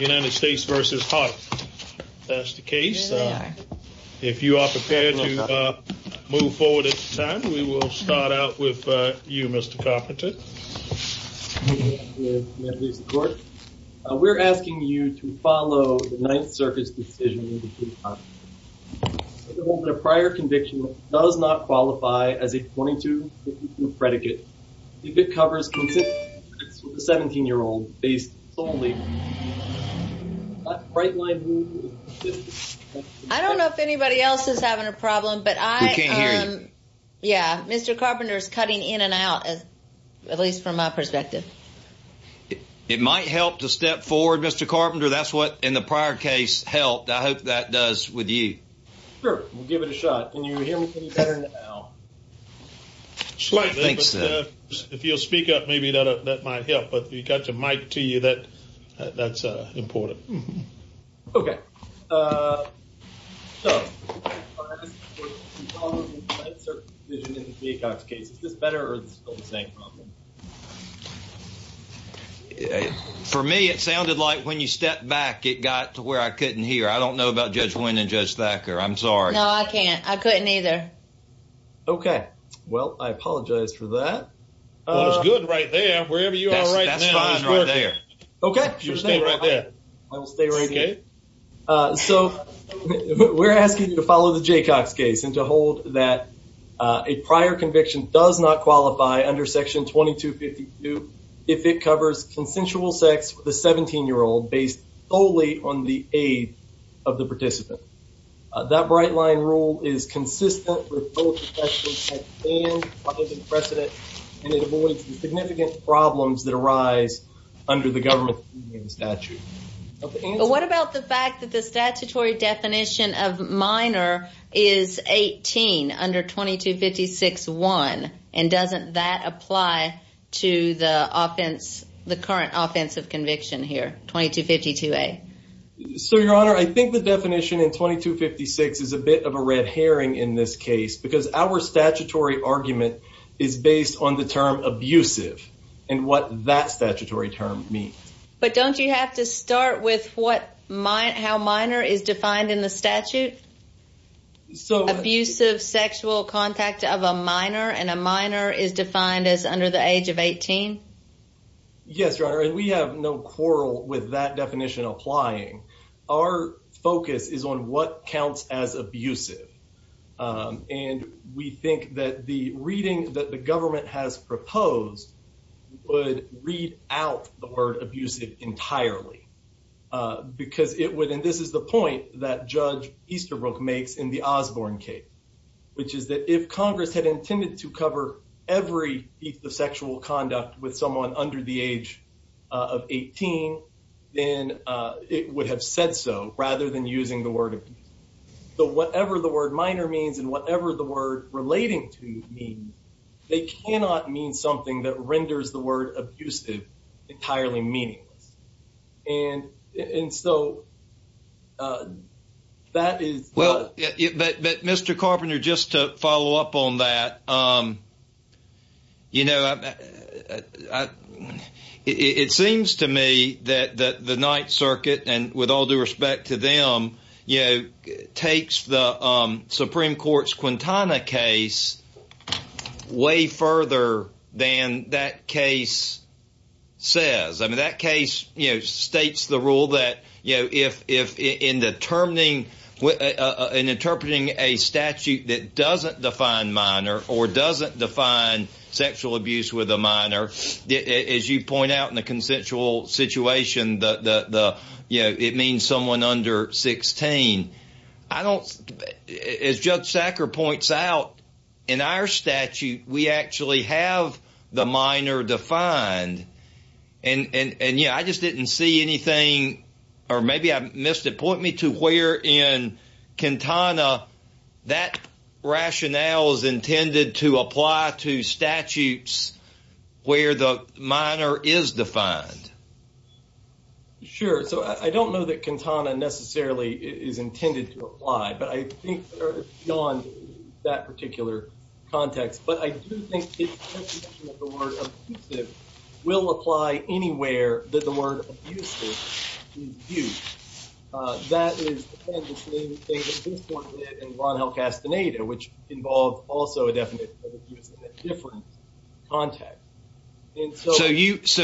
United States v. Hart. That's the case. If you are prepared to move forward at this time, we will start out with you, Mr. Carpenter. We're asking you to follow the Ninth Circuit's decision. A prior conviction does not qualify as a 22-52 predicate. If it covers consistent evidence with a 17-year-old, based solely on that right-line move... I don't know if anybody else is having a problem, but I... We can't hear you. Yeah, Mr. Carpenter's cutting in and out, at least from my perspective. It might help to step forward, Mr. Carpenter. That's what, in the prior case, helped. I hope that does with you. Sure, we'll give it a shot. Can you hear me any better now? Slightly, but if you'll speak up, maybe that might help. But if you've got your mic to you, that's important. Okay. So, in the prior case, you followed the Ninth Circuit's decision in the Peacock's case. Is this better, or is it still the same problem? For me, it sounded like when you stepped back, it got to where I couldn't hear. I don't know about Judge Wynn and Judge Thacker. I'm sorry. No, I can't. I couldn't either. Okay. Well, I apologize for that. Well, it's good right there. Wherever you are right now is good. Okay. Sure thing. I will stay right here. So, we're asking you to follow the Jaycox case and to hold that a prior conviction does not qualify under Section 2252 if it covers consensual sex with a 17-year-old based solely on the aid of the participant. That bright-line rule is consistent with both protections that stand by the precedent, and it avoids the significant problems that arise under the government's union statute. What about the fact that the statutory definition of minor is 18 under 2256-1, and doesn't that apply to the current offensive conviction here, 2252-A? So, Your Honor, I think the definition in 2256 is a bit of a red herring in this case because our statutory argument is based on the term abusive and what that statutory term means. But don't you have to start with how minor is defined in the statute? Abusive sexual contact of a minor and a minor is defined as under the age of 18? Yes, Your Honor, and we have no quarrel with that definition applying. Our focus is on what counts as abusive, and we think that the reading that the government has is that it is not abusive entirely, because it would, and this is the point that Judge Easterbrook makes in the Osborne case, which is that if Congress had intended to cover every feat of sexual conduct with someone under the age of 18, then it would have said so rather than using the word abusive. So whatever the word minor means and whatever the word relating to means, they cannot mean something that renders the word abusive entirely meaningless, and so that is... Well, but Mr. Carpenter, just to follow up on that, you know, it seems to me that the Ninth Circuit, and with all due respect to them, you know, takes the Supreme Court's Quintana case way further than that case says. I mean, that case, you know, states the rule that, you know, if in determining, in interpreting a statute that doesn't define minor or doesn't define sexual abuse with a minor, as you point out in the consensual situation, you know, it means someone under 16. I don't, as Judge Sacker points out, in our statute, we actually have the minor defined, and yeah, I just didn't see anything, or maybe I missed it. Point me to where in Quintana that rationale is intended to apply to statutes where the minor is defined. Sure. So I don't know that Quintana necessarily is intended to apply, but I think beyond that particular context, but I do think the definition of the word abusive will apply anywhere that the word abusive is used. That is the same thing that this Court did in Ron El Castaneda, which involved also a definition of abuse in a different context. So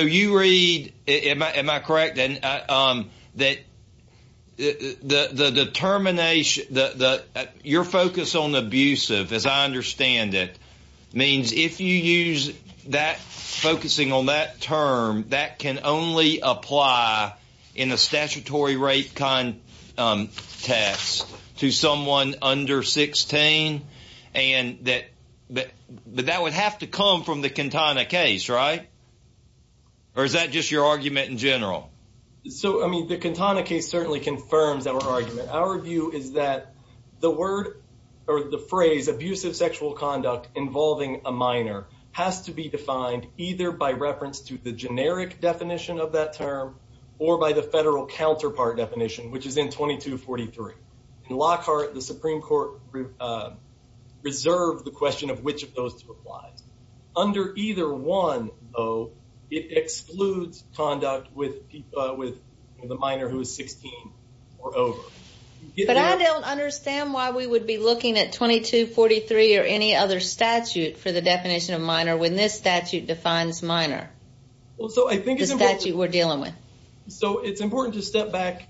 you read, am I correct, that the determination, your focus on abusive, as I understand it, means if you use that, focusing on that term, that can only apply in a statutory rape context to someone under 16, and that would have to come from the Quintana case, right? Or is that just your argument in general? So, I mean, the Quintana case certainly confirms our argument. Our view is that the word, or the phrase, abusive sexual conduct involving a minor has to be defined either by reference to the generic definition of that term, or by the federal counterpart definition, which is in 2243. In Lockhart, the Supreme Court reserved the question of which of those two applies. Under either one, though, it excludes conduct with the minor who is 16 or over. But I don't understand why we would be looking at 2243 or any other statute for the definition of minor when this statute defines minor. So I think it's important to step back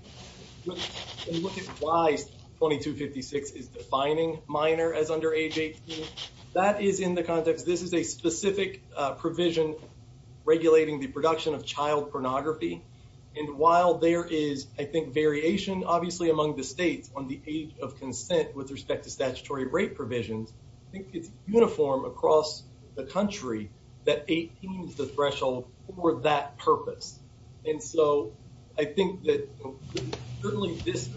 and look at why 2256 is defining minor as under age 18. That is in the context, this is a specific provision regulating the production of child pornography. And while there is, I think, variation, obviously, among the states on the age of consent with respect to statutory rape provisions, I think it's uniform across the that 18 is the threshold for that purpose. And so I think that certainly this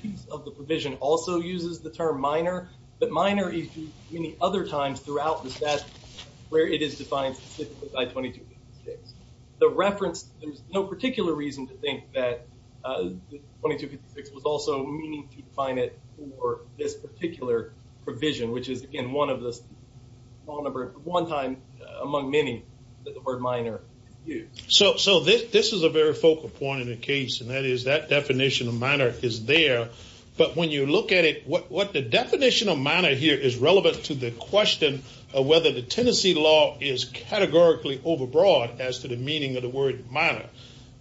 piece of the provision also uses the term minor, but minor is used many other times throughout the statute where it is defined specifically by 2256. The reference, there's no particular reason to think that 2256 was also meaning to define it for this particular provision, which is, again, of the one time among many that the word minor is used. So this is a very focal point in the case, and that is that definition of minor is there. But when you look at it, what the definition of minor here is relevant to the question of whether the Tennessee law is categorically overbroad as to the meaning of the word minor.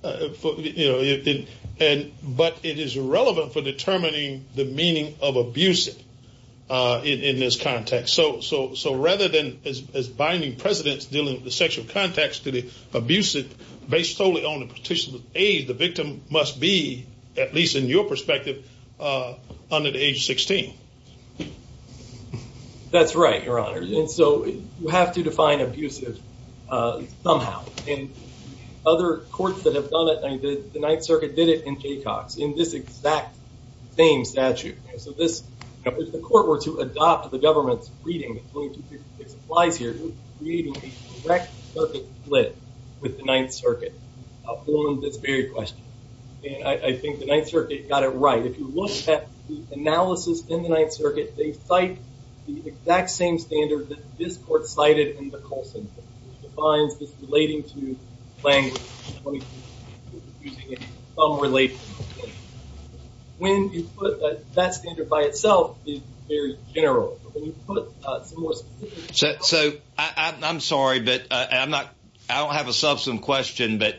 But it is relevant for determining the meaning of abusive in this context. So rather than, as binding precedents dealing with the sexual context to the abusive, based solely on the petitioner's age, the victim must be, at least in your perspective, under the age of 16. That's right, Your Honor. And so you have to define abusive somehow. And other courts that have done it, the Ninth Circuit did it, and Jaycox, in this exact same statute. So this, if the court were to adopt the government's reading of 2256 applies here, creating a direct circuit split with the Ninth Circuit on this very question. And I think the Ninth Circuit got it right. If you look at the analysis in the Ninth Circuit, they cite the exact same standard that this court cited in the Colson case, which defines this relating to when you put that standard by itself is very general. So I'm sorry, but I don't have a substantive question, but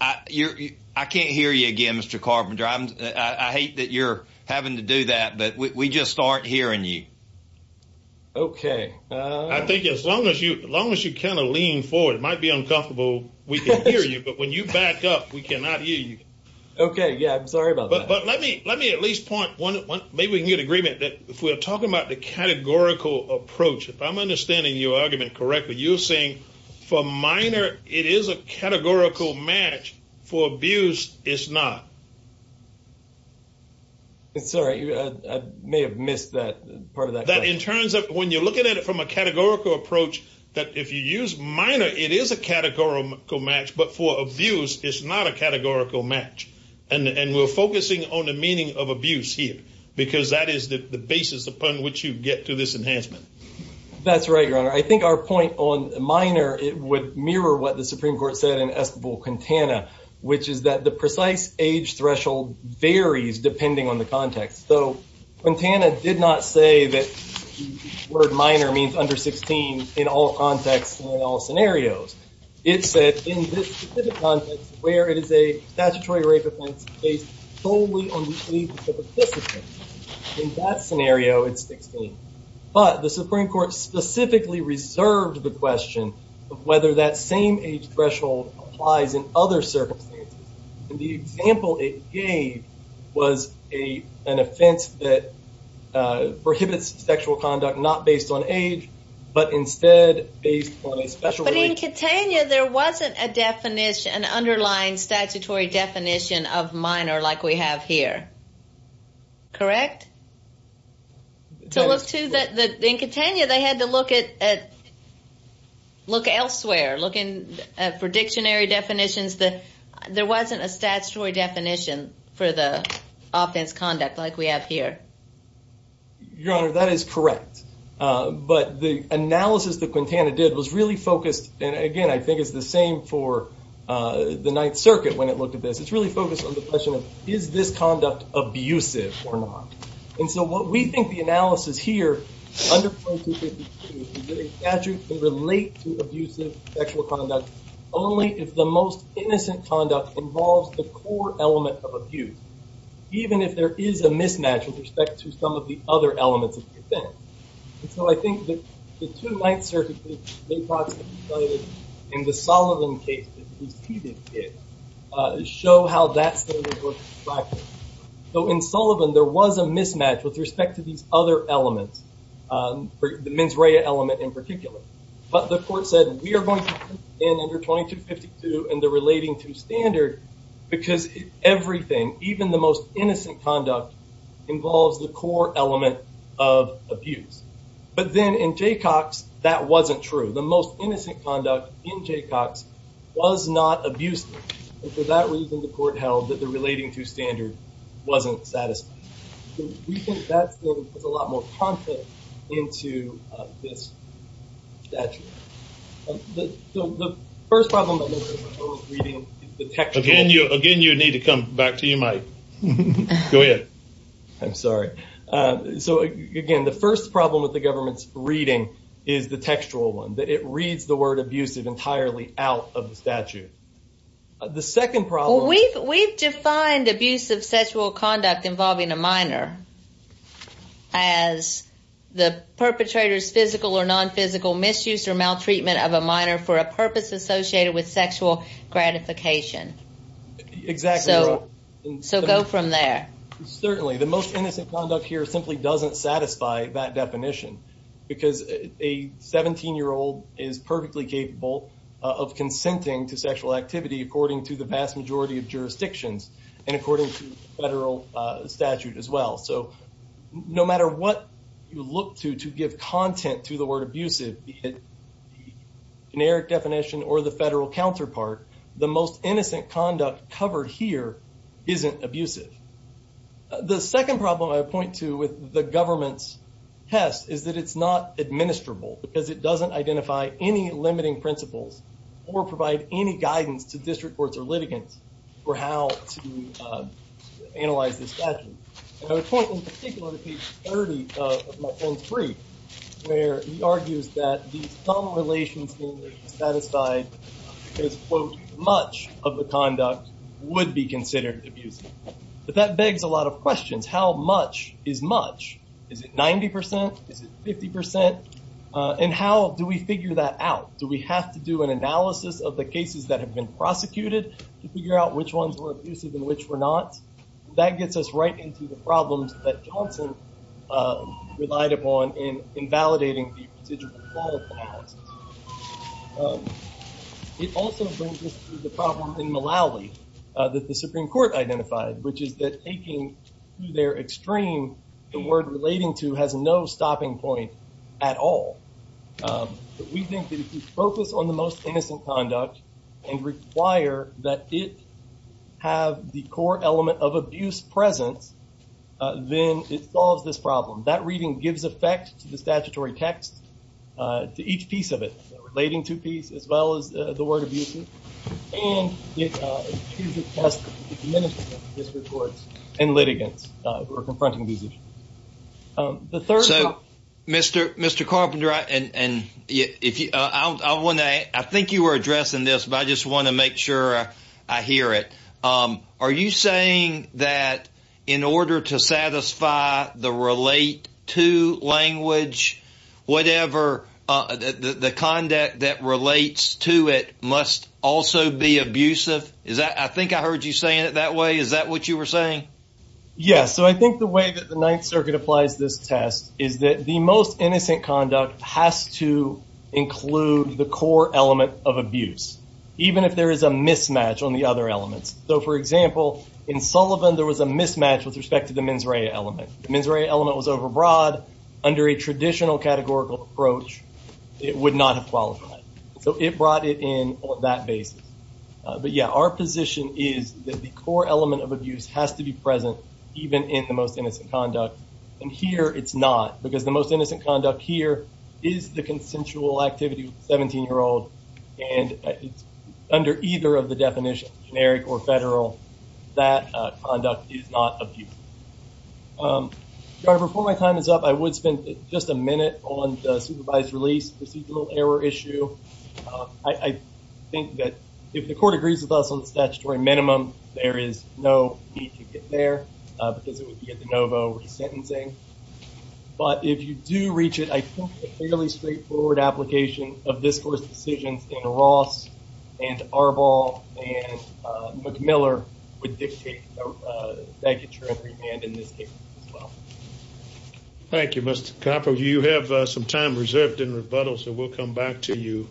I can't hear you again, Mr. Carpenter. I hate that you're having to do that, but we just aren't hearing you. Okay. I think as long as you kind of lean forward, it might be uncomfortable. We can hear you, but when you back up, we cannot hear you. Okay. Yeah. I'm sorry about that. But let me at least point one, maybe we can get agreement that if we're talking about the categorical approach, if I'm understanding your argument correctly, you're saying for minor, it is a categorical match. For abuse, it's not. Sorry. I may have missed that part of that. That in terms of when you're looking at it from a categorical approach, that if you use minor, it is a categorical match, but for abuse, it's not a categorical match. And we're focusing on the meaning of abuse here, because that is the basis upon which you get to this enhancement. That's right, Your Honor. I think our point on minor, it would mirror what the Supreme Court said in Esquivel-Quintana, which is that the precise age threshold varies depending on the context. So Quintana did not say that the word minor means under 16 in all contexts and in all where it is a statutory rape offense based solely on the age of the participant. In that scenario, it's 16. But the Supreme Court specifically reserved the question of whether that same age threshold applies in other circumstances. And the example it gave was an offense that prohibits sexual conduct not based on age, but instead based on a special- In Quintana, there wasn't an underlying statutory definition of minor like we have here. Correct? In Quintana, they had to look elsewhere, looking for dictionary definitions. There wasn't a statutory definition for the offense conduct like we have here. Your Honor, that is correct. But the analysis that Quintana did was really focused, and again, I think it's the same for the Ninth Circuit when it looked at this. It's really focused on the question of, is this conduct abusive or not? And so what we think the analysis here, under point 253, is that a statute can relate to abusive sexual conduct only if the most the other elements of the offense. And so I think that the two Ninth Circuit cases they possibly cited in the Sullivan case that preceded it show how that standard works in practice. So in Sullivan, there was a mismatch with respect to these other elements, the mens rea element in particular. But the court said, we are going to put it in under 2252 and the relating to standard because everything, even the most innocent conduct, involves the core element of abuse. But then in Jaycox, that wasn't true. The most innocent conduct in Jaycox was not abusive. And for that reason, the court held that the relating to standard wasn't satisfying. We think that's a lot more content into this statute. The first problem that we're reading is the text. Again, you need to come back to your mic. Go ahead. I'm sorry. So again, the first problem with the government's reading is the textual one, that it reads the word abusive entirely out of the statute. The second problem... Well, we've defined abusive sexual conduct involving a minor as the perpetrator's physical or non-physical misuse or maltreatment of a minor for a purpose associated with sexual gratification. Exactly. So go from there. Certainly. The most innocent conduct here simply doesn't satisfy that definition because a 17-year-old is perfectly capable of consenting to sexual activity according to the vast majority of jurisdictions and according to federal statute as well. So no matter what you look to to give content to the word abusive, the generic definition or the federal counterpart, the most innocent conduct covered here isn't abusive. The second problem I point to with the government's test is that it's not administrable because it doesn't identify any limiting principles or provide any guidance to district courts or litigants for how to analyze this statute. And I would point in particular to page 30 of my friend's brief where he argues that these thumb relations being satisfied because, quote, much of the conduct would be considered abusive. But that begs a lot of questions. How much is much? Is it 90 percent? Is it 50 percent? And how do we figure that out? Do we have to do an analysis of the cases that have been prosecuted to figure out which ones were abusive and which were not? That gets us right into the Johnson relied upon in invalidating the procedure. It also brings us to the problem in Malawi that the Supreme Court identified, which is that taking to their extreme the word relating to has no stopping point at all. But we think that if you focus on the most innocent conduct and require that it have the core element of abuse presence, then it solves this problem. That reading gives effect to the statutory text, to each piece of it relating to peace as well as the word abusive. And it has this report and litigants who are confronting these. The third Mr. Mr. Carpenter, and if I want to I think you were addressing this, but I just want to make sure I hear it. Are you saying that in order to satisfy the relate to language, whatever the conduct that relates to it must also be abusive? Is that I think I heard you saying it that way. Is that what you were saying? Yes. So I think the way that the Ninth Circuit applies this test is that the most innocent conduct has to include the core element of abuse, even if there is a mismatch on the other elements. So for example, in Sullivan, there was a mismatch with respect to the mens rea element. The mens rea element was over broad under a traditional categorical approach. It would not have qualified. So it brought it in on that basis. But yeah, our position is that the core element of abuse has to be present, even in the most innocent conduct. And here it's not because the most innocent conduct here is the consensual activity of a 17-year-old. And it's under either of the definitions, generic or federal, that conduct is not abusive. Before my time is up, I would spend just a minute on the supervised release procedural error issue. I think that if the court agrees with us on the statutory minimum, there is no need to get there because it would be a de novo resentencing. But if you do reach it, a fairly straightforward application of discourse decisions in Ross and Arbol and McMiller would dictate a statutory remand in this case as well. Thank you, Mr. Copper. You have some time reserved in rebuttal, so we'll come back to you,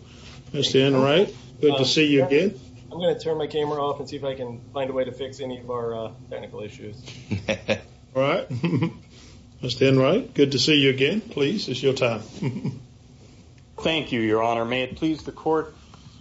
Mr. Enright. Good to see you again. I'm going to turn my camera off and see if I can find a way to fix any of our technical issues. All right. Mr. Enright, good to see you again, please. It's your time. Thank you, Your Honor. May it please the court,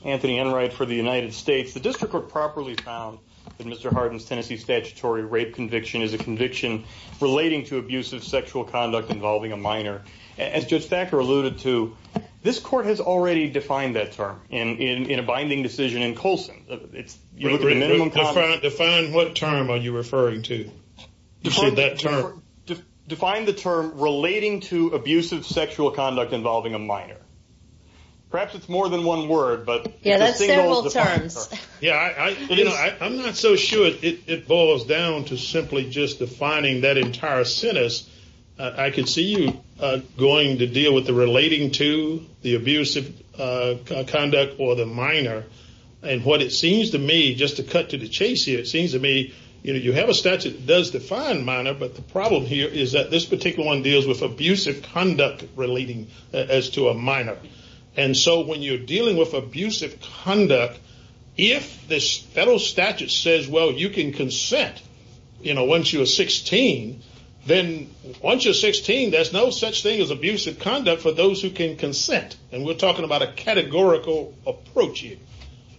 Anthony Enright, for the United States. The district court properly found that Mr. Harden's Tennessee statutory rape conviction is a conviction relating to abusive sexual conduct involving a minor. As Judge Thacker alluded to, this court has already defined that term in a binding decision in Colson. You look at the minimum... Define what term are you referring to? Define the term relating to abusive sexual conduct involving a minor. Perhaps it's more than one word, but... Yeah, that's several terms. Yeah. I'm not so sure it boils down to simply just defining that entire sentence. I could see you going to deal with the relating to the abusive conduct or the minor. And what it seems to me, just to cut to the chase here, it seems to me you have a statute that does define minor, but the problem here is that this particular one deals with abusive conduct relating as to a minor. And so when you're dealing with abusive conduct, if this federal statute says, well, you can consent once you're 16, then once you're 16, there's no such thing as abusive conduct for those who can consent. And we're talking about a categorical approach here.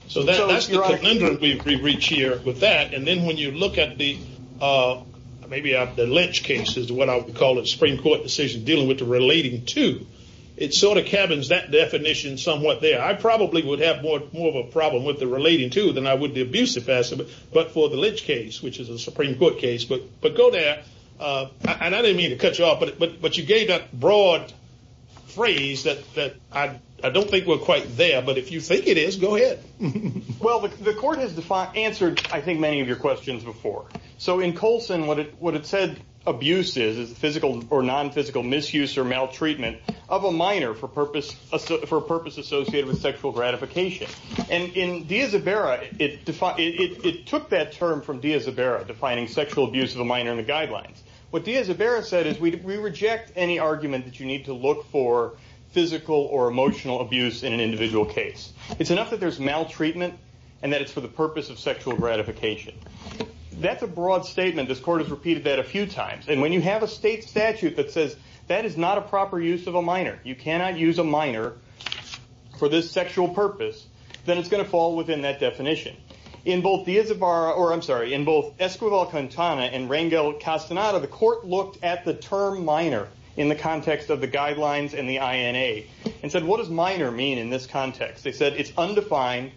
So that's the conundrum we've reached here with that. And then when you look at the, maybe the Lynch case is what I would call it, Supreme Court decision dealing with the relating to, it sort of cabins that definition somewhat there. I probably would have more of a problem with the relating to than I would the abusive aspect, but for the Lynch case, which is a Supreme Court case, but go there. And I didn't mean to cut you off, but you gave that broad phrase that I don't think we're quite there, but if you think it is, go ahead. Well, the court has answered, I think, many of your questions before. So in Colson, what it said, abuse is physical or non-physical misuse or maltreatment of a minor for a purpose associated with sexual gratification. And in D'Isabera, it took that term from D'Isabera, defining sexual abuse of a minor in the guidelines. What D'Isabera said is we reject any argument that you need to and that it's for the purpose of sexual gratification. That's a broad statement. This court has repeated that a few times. And when you have a state statute that says that is not a proper use of a minor, you cannot use a minor for this sexual purpose, then it's going to fall within that definition. In both D'Isabera, or I'm sorry, in both Esquivel Cantana and Rangel Castaneda, the court looked at the term minor in the context of the guidelines and the INA and said, what does minor mean in this context? They said it's undefined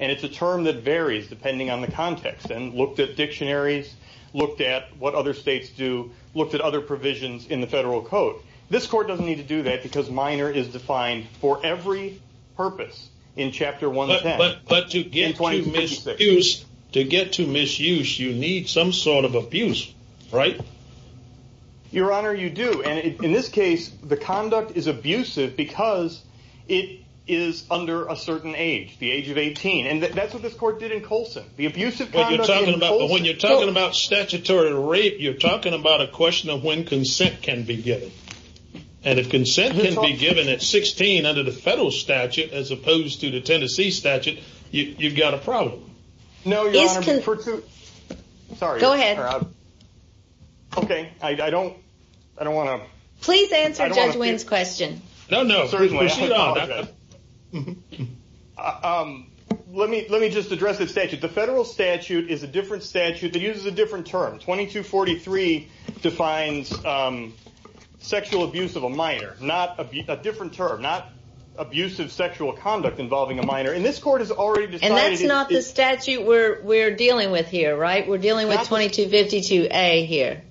and it's a term that varies depending on the context and looked at dictionaries, looked at what other states do, looked at other provisions in the federal code. This court doesn't need to do that because minor is defined for every purpose in chapter 110. But to get to misuse, you need some sort of abuse, right? Your Honor, you do. And in this case, the conduct is abusive because it is under a certain age, the age of 18. And that's what this court did in Colson. The abusive conduct in Colson- When you're talking about statutory rape, you're talking about a question of when consent can be given. And if consent can be given at 16 under the federal statute, as opposed to the Tennessee statute, you've got a problem. No, Your Honor. Sorry. Go ahead. Okay. I don't want to- Please answer Judge Wynn's question. No, no. Let me just address the statute. The federal statute is a different statute that uses a different term. 2243 defines sexual abuse of a minor, a different term, not abusive sexual conduct involving a minor. And this court has already decided- And that's not the statute we're dealing with here, right? We're dealing with 2252A here.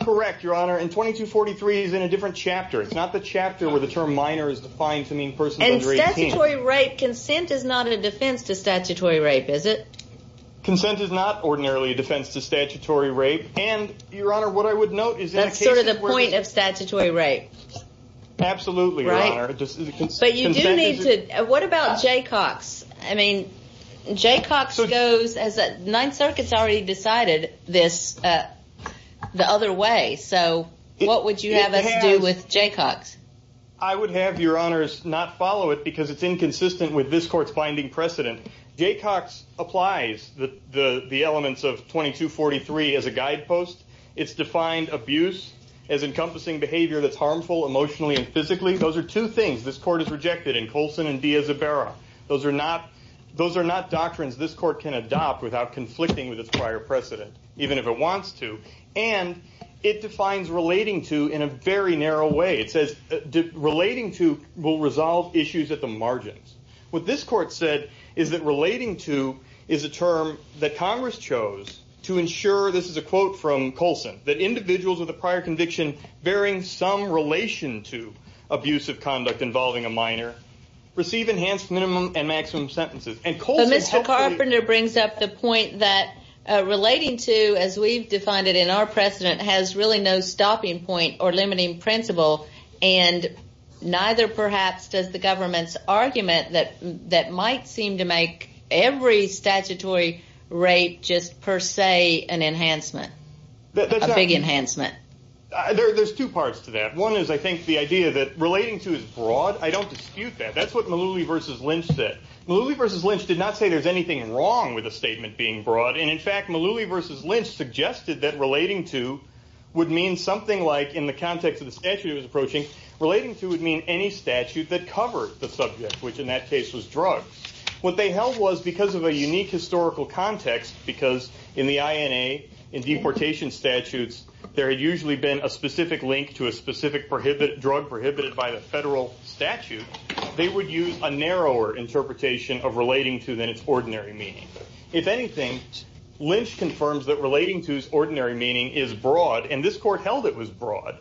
Correct, Your Honor. And 2243 is in a different chapter. It's not the chapter where the term minor is defined to mean persons under 18. And statutory rape, consent is not a defense to statutory rape, is it? Consent is not ordinarily a defense to statutory rape. And, Your Honor, what I would note is- That's sort of the point of statutory rape. Absolutely, Your Honor. But you do need to- What about Jaycox? I mean, Jaycox goes as- Ninth Circuit's already decided this the other way. So what would you have us do with Jaycox? I would have, Your Honors, not follow it because it's inconsistent with this court's finding precedent. Jaycox applies the elements of 2243 as a guidepost. It's defined abuse as encompassing that's harmful emotionally and physically. Those are two things this court has rejected in Colson and D'Isabera. Those are not doctrines this court can adopt without conflicting with its prior precedent, even if it wants to. And it defines relating to in a very narrow way. It says relating to will resolve issues at the margins. What this court said is that relating to is a term that Congress chose to ensure- This is a quote from Colson. That individuals with a prior conviction bearing some relation to abusive conduct involving a minor receive enhanced minimum and maximum sentences. And Colson- But Mr. Carpenter brings up the point that relating to, as we've defined it in our precedent, has really no stopping point or limiting principle. And neither, perhaps, does the government's argument that might seem to make every statutory rape just per se an enhancement, a big enhancement. There's two parts to that. One is, I think, the idea that relating to is broad. I don't dispute that. That's what Malouly v. Lynch said. Malouly v. Lynch did not say there's anything wrong with a statement being broad. And in fact, Malouly v. Lynch suggested that relating to would mean something like, in the context of the statute it was approaching, relating to would mean any statute that covered the subject, which in that in deportation statutes there had usually been a specific link to a specific drug prohibited by the federal statute, they would use a narrower interpretation of relating to than its ordinary meaning. If anything, Lynch confirms that relating to's ordinary meaning is broad, and this court the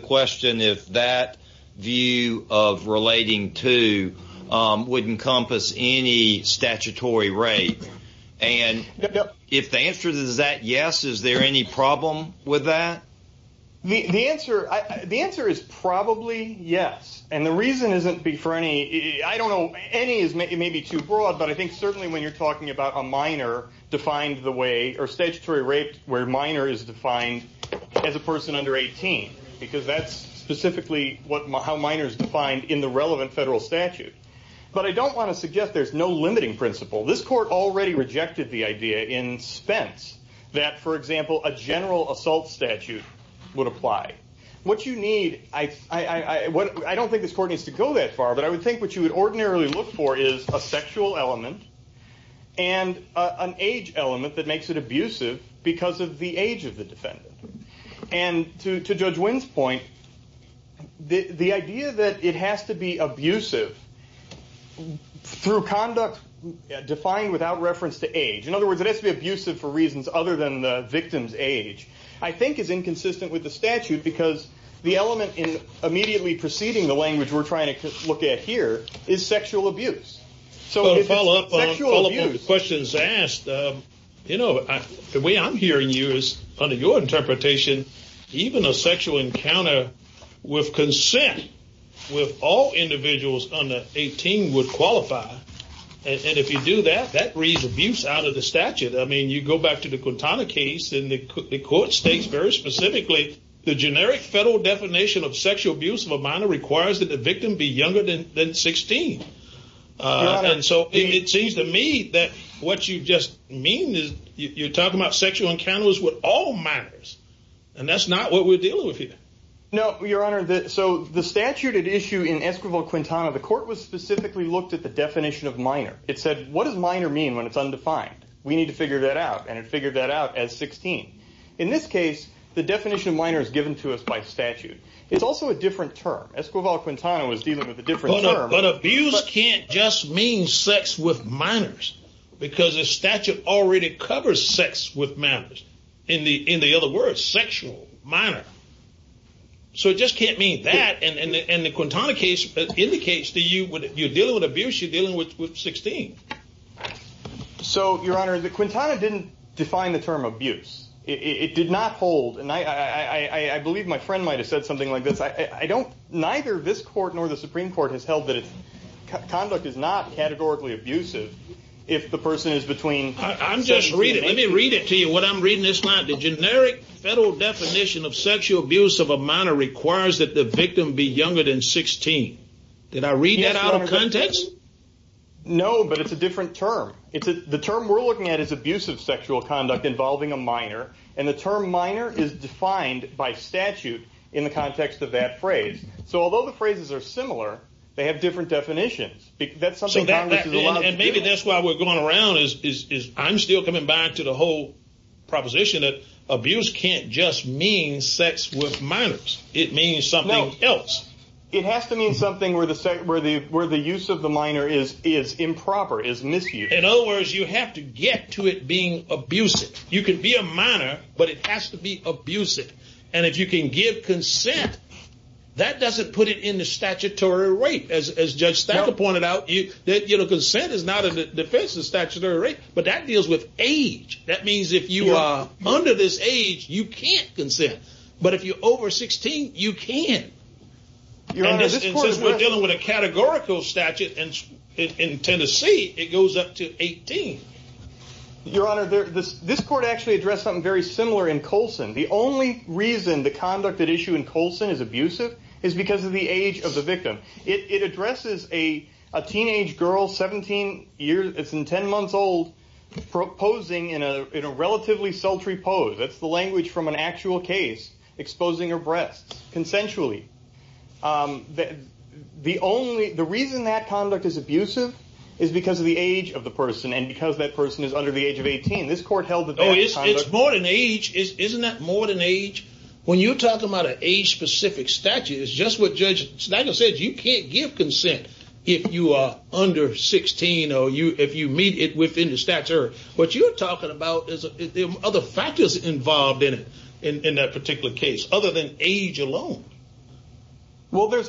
question if that view of relating to would encompass any statutory rape. And if the answer is that yes, is there any problem with that? The answer is probably yes. And the reason isn't for any, I don't know, any is maybe too broad, but I think certainly when you're talking about a minor defined the way, or statutory rape where minor is defined as a person under 18, because that's specifically how minor is defined in the relevant federal statute. But I don't want to suggest there's no limiting principle. This court already rejected the idea in Spence that, for example, a general assault statute would apply. What you need, I don't think this court needs to go that age element that makes it abusive because of the age of the defendant. And to Judge Wynn's point, the idea that it has to be abusive through conduct defined without reference to age, in other words, it has to be abusive for reasons other than the victim's age, I think is inconsistent with the statute because the element immediately preceding the language we're trying to look at is sexual abuse. So to follow up on the questions asked, you know, the way I'm hearing you is, under your interpretation, even a sexual encounter with consent with all individuals under 18 would qualify. And if you do that, that reads abuse out of the statute. I mean, you go back to the Quintana case, and the court states very specifically, the generic federal definition of sexual abuse of a minor requires that the victim be younger than 16. And so it seems to me that what you just mean is you're talking about sexual encounters with all minors. And that's not what we're dealing with here. No, Your Honor. So the statute at issue in Esquivel-Quintana, the court was specifically looked at the definition of minor. It said, what does minor mean when it's undefined? We need to figure that out. And it figured that out as 16. In this case, the definition of minor is given to us by statute. It's also a different term. Esquivel-Quintana was dealing with a different term. But abuse can't just mean sex with minors, because the statute already covers sex with minors. In the other words, sexual minor. So it just can't mean that. And the Quintana case indicates that you're dealing with abuse, you're dealing with 16. So, Your Honor, the Quintana didn't define the term abuse. It did not hold. And I believe my friend might have said something like this. I don't, neither this court nor the Supreme Court has held that conduct is not categorically abusive if the person is between. I'm just reading. Let me read it to you. What I'm reading this line. The generic federal definition of sexual abuse of a minor requires that the victim be younger than 16. Did I read that out of context? No, but it's a different term. The term we're looking at is abusive sexual conduct involving a minor. And the term minor is defined by statute in the context of that phrase. So although the phrases are similar, they have different definitions. And maybe that's why we're going around is I'm still coming back to the whole proposition that abuse can't just mean sex with minors. It means something else. It has to mean something where the use of the minor is improper, is misused. In other words, you have to get to it being abusive. You can be a minor, but it has to be abusive. And if you can give consent, that doesn't put it in the statutory rate. As Judge Stackle pointed out, consent is not a defense of statutory rate, but that deals with age. That means if you are under this age, you can't consent. But if you're over 16, you can. Your Honor, this court says we're dealing with a categorical statute, and in Tennessee, it goes up to 18. Your Honor, this court actually addressed something very similar in Colson. The only reason the conduct at issue in Colson is abusive is because of the age of the victim. It addresses a teenage girl, 17 years and 10 months old, proposing in a relatively sultry pose. That's the language from an actual case, exposing her breasts, consensually. The reason that conduct is abusive is because of the age of the person, and because that person is under the age of 18. This court held that- It's more than age. Isn't that more than age? When you're talking about an age-specific statute, it's just what Judge Stackle said. You can't give consent if you are under 16, or if you meet it within the statute. What you're talking about are the factors involved in that particular case, other than age alone. Well, there's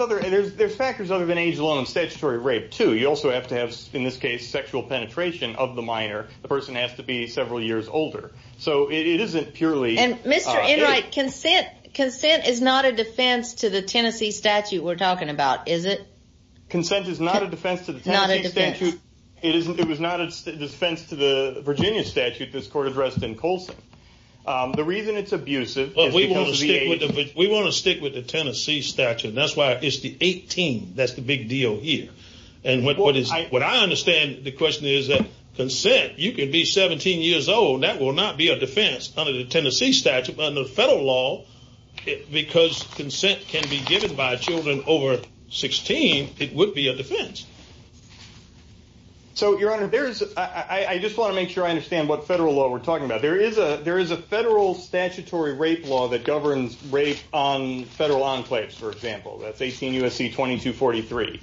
factors other than age alone in statutory rape, too. You also have to have, in this case, sexual penetration of the minor. The person has to be several years older. Mr. Enright, consent is not a defense to the Tennessee statute we're talking about, is it? Consent is not a defense to the Tennessee statute. It was not a defense to the Tennessee statute. The reason it's abusive is because of the age. We want to stick with the Tennessee statute. That's why it's the 18. That's the big deal here. What I understand the question is that consent, you can be 17 years old. That will not be a defense under the Tennessee statute. Under federal law, because consent can be given by children over 16, it would be a defense. Your Honor, I just want to make sure I understand. There is a federal statutory rape law that governs rape on federal enclaves, for example. That's 18 U.S.C. 2243.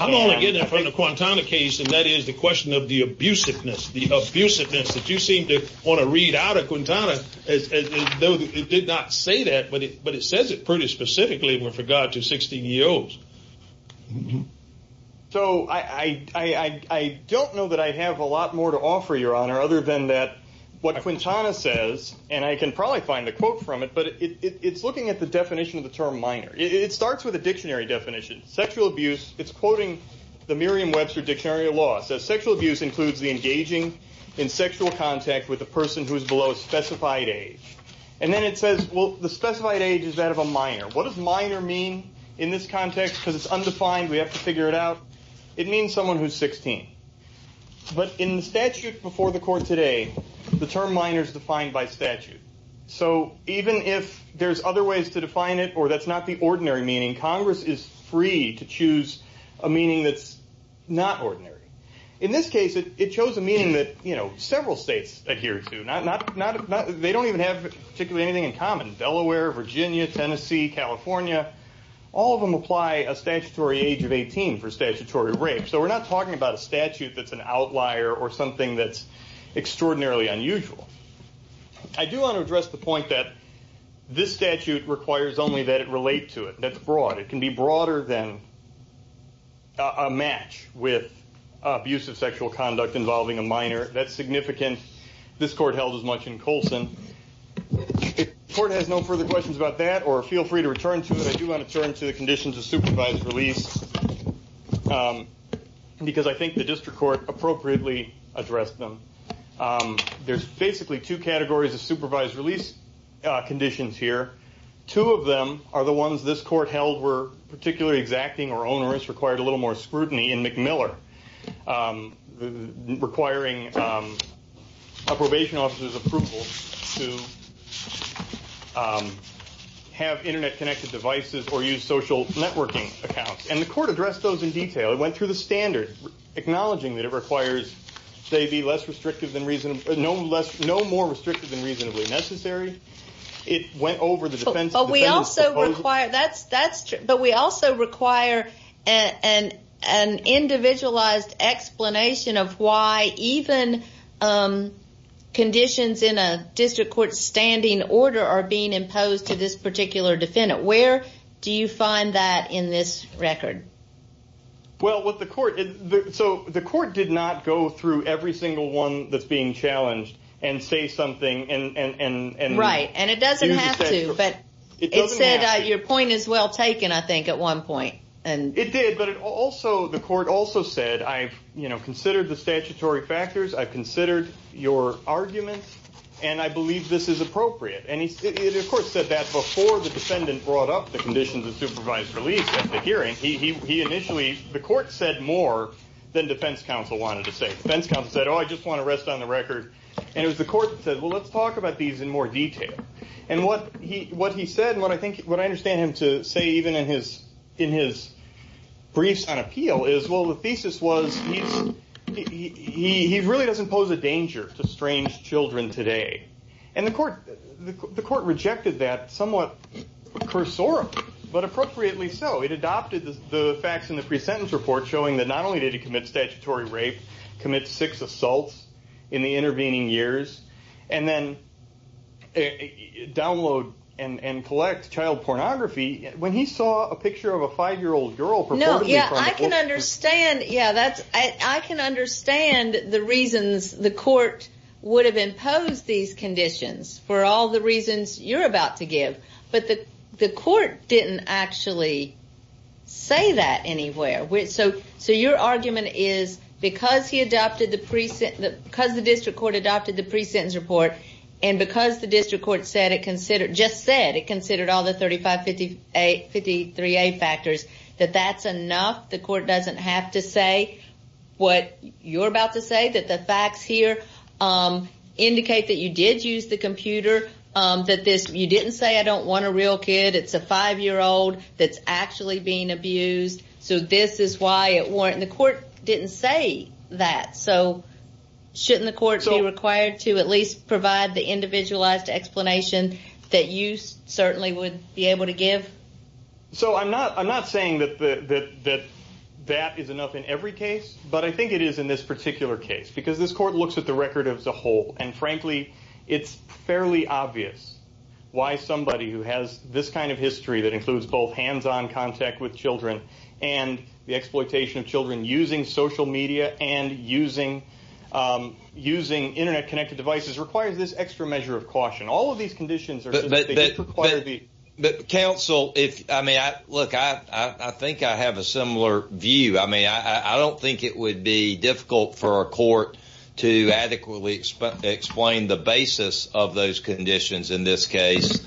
I'm only getting it for the Quantana case, and that is the question of the abusiveness. The abusiveness that you seem to want to read out of Quantana, though it did not say that, but it says it pretty specifically with regard to 16-year-olds. I don't know that I have a lot more to offer, Your Honor, other than what Quantana says. I can probably find a quote from it, but it's looking at the definition of the term minor. It starts with a dictionary definition. Sexual abuse, it's quoting the Merriam-Webster Dictionary of Law. It says sexual abuse includes the engaging in sexual contact with a person who is below a specified age. Then it says the specified age is that of a minor. What does that mean? It means someone who is 16. In the statute before the court today, the term minor is defined by statute. Even if there are other ways to define it, or that's not the ordinary meaning, Congress is free to choose a meaning that's not ordinary. In this case, it chose a meaning that several states adhere to. They don't even have particularly anything in common. Delaware, Virginia, Tennessee, California, all of them apply a statutory age of 18 for statutory rape. So we're not talking about a statute that's an outlier or something that's extraordinarily unusual. I do want to address the point that this statute requires only that it relate to it. That's broad. It can be broader than a match with abusive sexual conduct involving a minor. That's significant. This court held as much in Colson. If the court has no further questions about that, or feel free to return to it, I do want to turn to the conditions of supervised release because I think the district court appropriately addressed them. There's basically two categories of supervised release conditions here. Two of them are the ones this court held were particularly exacting or onerous, required a little more scrutiny, in McMiller, requiring a probation officer's approval to have internet-connected devices or use social networking accounts. The court addressed those in detail. It went through the standard, acknowledging that it requires they be no more restrictive than reasonably necessary. It went over the defense. We also require an individualized explanation of why even conditions in a district court standing order are being imposed to this particular defendant. Where do you find that in this record? The court did not go through every single one that's being addressed. It doesn't have to. Your point is well taken, I think, at one point. It did, but the court also said, I've considered the statutory factors, I've considered your arguments, and I believe this is appropriate. It, of course, said that before the defendant brought up the conditions of supervised release at the hearing. The court said more than defense counsel wanted to say. Defense counsel said, I just want to rest on the record. It was the And what he said, and what I think, what I understand him to say even in his briefs on appeal is, well, the thesis was he really doesn't pose a danger to strange children today. And the court rejected that somewhat cursorily, but appropriately so. It adopted the facts in the pre-sentence report showing that not only did he commit statutory rape, commit six assaults in the intervening years, and then download and collect child pornography when he saw a picture of a five-year-old girl. No, yeah, I can understand. Yeah, that's, I can understand the reasons the court would have imposed these conditions for all the reasons you're about to give. But the court didn't actually say that anywhere. So your argument is because he adopted the pre-sentence, because the district court adopted the pre-sentence report and because the district court said it considered, just said it considered all the 35-53A factors, that that's enough. The court doesn't have to say what you're about to say, that the facts here indicate that you did use the computer, that this, you didn't say I don't want a real kid. It's a five-year-old that's actually being abused. So this is why it weren't, and the court didn't say that. So shouldn't the court be required to at least provide the individualized explanation that you certainly would be able to give? So I'm not, I'm not saying that the, that that is enough in every case, but I think it is in this particular case because this court looks at the record as a whole. And frankly, it's fairly obvious why somebody who has this kind of history that includes both hands-on contact with children and the exploitation of children using social media and using, using internet-connected devices requires this extra measure of caution. All of these conditions are, require the, but counsel, if I may, I look, I, I think I have a similar view. I mean, I don't think it would be difficult for our court to adequately explain the basis of those conditions in this case.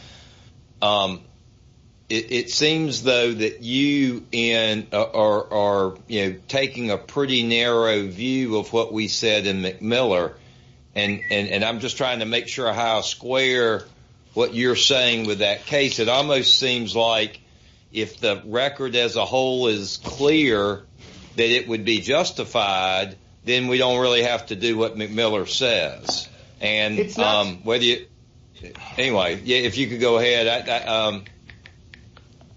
It seems though that you, Ian, are, are, you know, taking a pretty narrow view of what we said in McMiller. And, and, and I'm just trying to make sure how square what you're saying with that case. It almost seems like if the record as a whole is clear that it would be justified, then we don't really have to do what McMiller says. And whether you, anyway, if you could go ahead.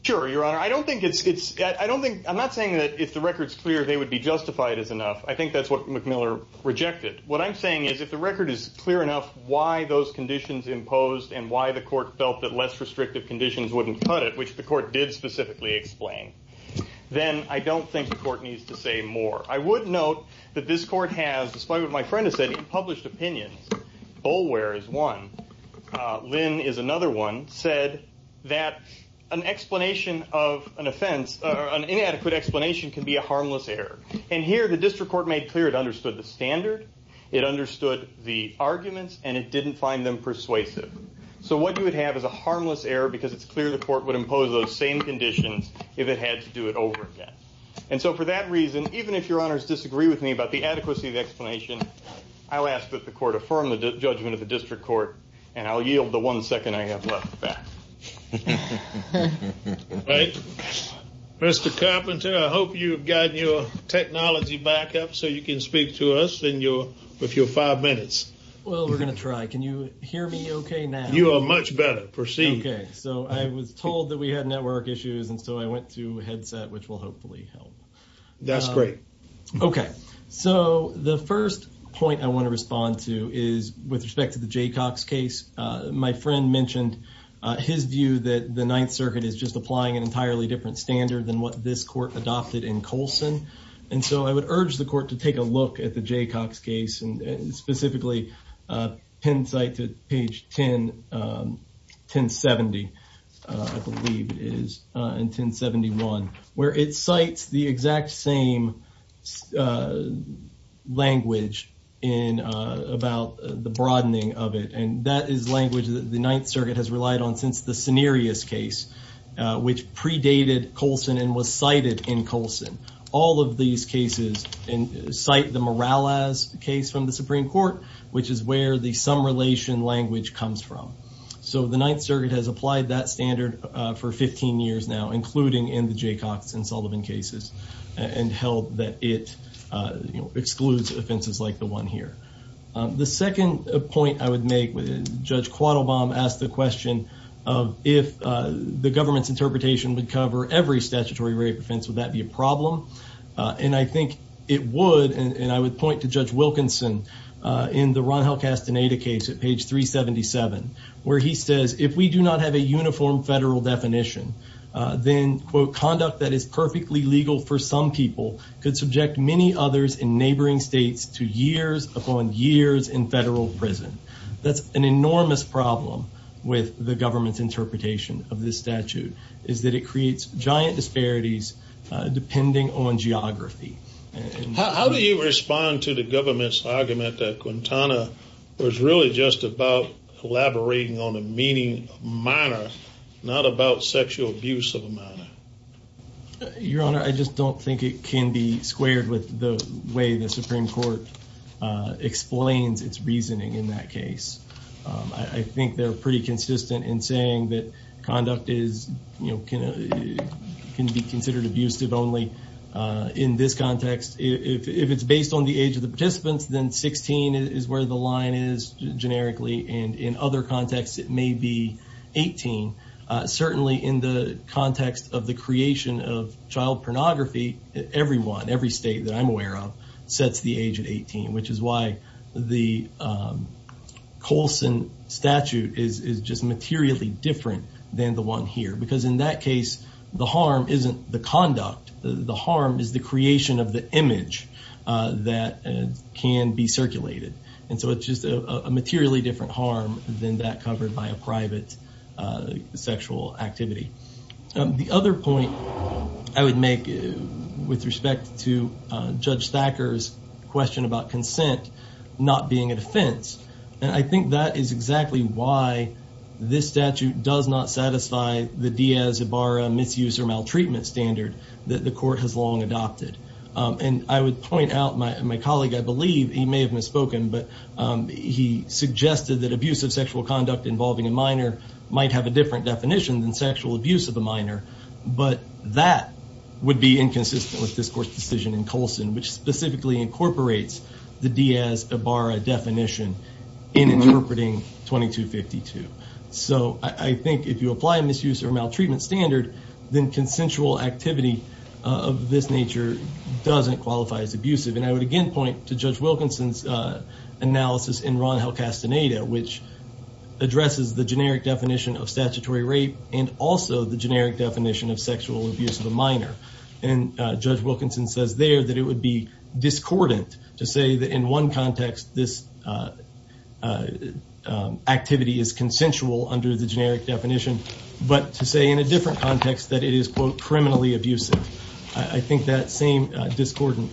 Sure, your honor. I don't think it's, it's, I don't think, I'm not saying that if the record's clear, they would be justified as enough. I think that's what McMiller rejected. What I'm saying is if the record is clear enough, why those conditions imposed and why the court felt that less restrictive conditions wouldn't cut it, which the court did specifically explain, then I don't think the court needs to say more. I would note that this court has, despite what my friend has said in published opinions, Boulware is one, Lynn is another one, said that an explanation of an offense or an inadequate explanation can be a harmless error. And here the district court made clear it understood the standard, it understood the arguments, and it didn't find them persuasive. So what you would have is a harmless error because it's clear the court would impose those same conditions if it had to do it over again. And so for that reason, even if your honors disagree with me about the adequacy of the explanation, I'll ask that the court affirm the judgment of the district court, and I'll yield the one second I have left. All right, Mr. Carpenter, I hope you've gotten your technology back up so you can speak to us in your, with your five minutes. Well, we're going to try. Can you hear me okay now? You are much better. Proceed. Okay, so I was told that we had network issues, and so I went to the website, which will hopefully help. That's great. Okay, so the first point I want to respond to is with respect to the Jaycox case. My friend mentioned his view that the Ninth Circuit is just applying an entirely different standard than what this court adopted in Colson, and so I would urge the court to take a look at the Jaycox case, and specifically, pen site to page 10, 1070, I believe it is, in 1071, where it cites the exact same language in about the broadening of it, and that is language that the Ninth Circuit has relied on since the Cenarius case, which predated Colson and was cited in Colson. All of these cases cite the Morales case from the Supreme Court, which is where the some relation language comes from. So the Ninth Circuit has applied that standard for 15 years now, including in the Jaycox and Sullivan cases, and held that it excludes offenses like the one here. The second point I would make, Judge Quattlebaum asked the question of if the government's interpretation would cover every statutory rape offense, would that be a problem? And I think it would, and I would point to Judge Wilkinson in the Ron Halkastaneda case at page 377, where he says, if we do not have a uniform federal definition, then, quote, conduct that is perfectly legal for some people could subject many others in neighboring states to years upon years in federal prison. That's an enormous problem with the government's interpretation of this statute, is that it creates giant disparities depending on geography. How do you respond to the government's argument that Quintana was really just about collaborating on a meaning minor, not about sexual abuse of a minor? Your Honor, I just don't think it can be squared with the way the Supreme Court explains its in saying that conduct can be considered abusive only in this context. If it's based on the age of the participants, then 16 is where the line is, generically, and in other contexts, it may be 18. Certainly, in the context of the creation of child pornography, everyone, every state that I'm different than the one here, because in that case, the harm isn't the conduct. The harm is the creation of the image that can be circulated. It's just a materially different harm than that covered by a private sexual activity. The other point I would make with respect to Judge Thacker's question about consent not being a defense. I think that is exactly why this statute does not satisfy the Diaz-Ibarra misuse or maltreatment standard that the court has long adopted. I would point out, my colleague, I believe, he may have misspoken, but he suggested that abusive sexual conduct involving a minor might have a different definition than sexual abuse of a minor, but that would be inconsistent with this court's decision in Colson, which specifically incorporates the Diaz-Ibarra definition in interpreting 2252. I think if you apply a misuse or maltreatment standard, then consensual activity of this nature doesn't qualify as abusive. I would again point to Judge Wilkinson's analysis in Ron Helcastaneda, which addresses the generic definition of statutory sexual abuse of a minor, and Judge Wilkinson says there that it would be discordant to say that in one context this activity is consensual under the generic definition, but to say in a different context that it is, quote, criminally abusive. I think that same discordant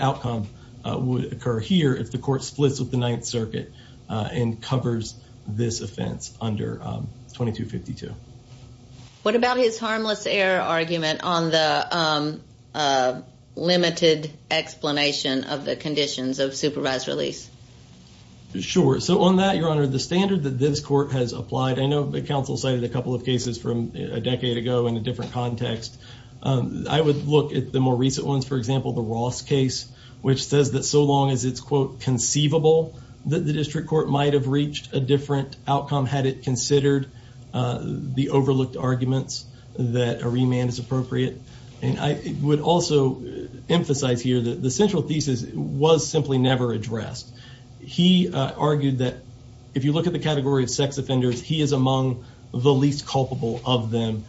outcome would occur here if the court splits with the Ninth Circuit and covers this offense under 2252. What about his harmless error argument on the limited explanation of the conditions of supervised release? Sure. So on that, Your Honor, the standard that this court has applied, I know the counsel cited a couple of cases from a decade ago in a different context. I would look at the more recent ones. For example, the Ross case, which says that so long as it's, quote, conceivable that the overlooked arguments that a remand is appropriate, and I would also emphasize here that the central thesis was simply never addressed. He argued that if you look at the category of sex offenders, he is among the least culpable of them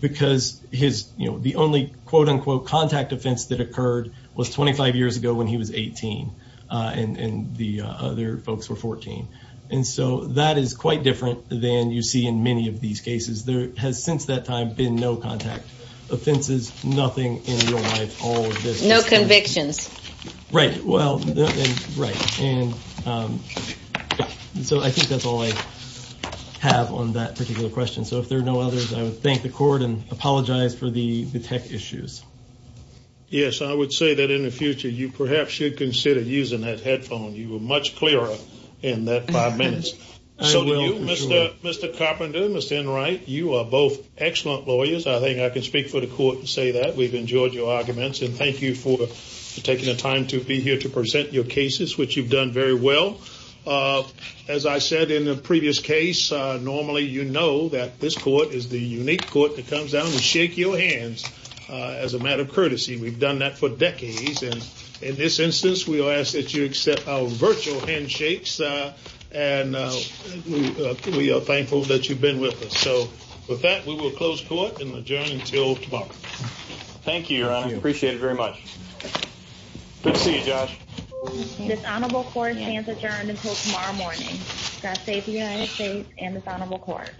because his, you know, the only, quote, unquote, contact offense that occurred was 25 years ago when he was 18 and the other folks were 14, and so that is quite different than you see in many of these cases. There has since that time been no contact offenses, nothing in real life, all of this. No convictions. Right. Well, right, and so I think that's all I have on that particular question. So if there are no others, I would thank the court and apologize for the tech issues. Yes, I would say that in the five minutes. So, Mr. Mr. Carpenter, Mr. Enright, you are both excellent lawyers. I think I can speak for the court and say that we've enjoyed your arguments, and thank you for taking the time to be here to present your cases, which you've done very well. As I said in the previous case, normally you know that this court is the unique court that comes down and shake your hands as a matter of courtesy. We've done that for decades, and in this instance, we'll ask that you accept our virtual handshakes, and we are thankful that you've been with us. So with that, we will close court and adjourn until tomorrow. Thank you, Your Honor. Appreciate it very much. Good to see you, Josh. This honorable court stands adjourned until tomorrow morning. God save the United States and this honorable court.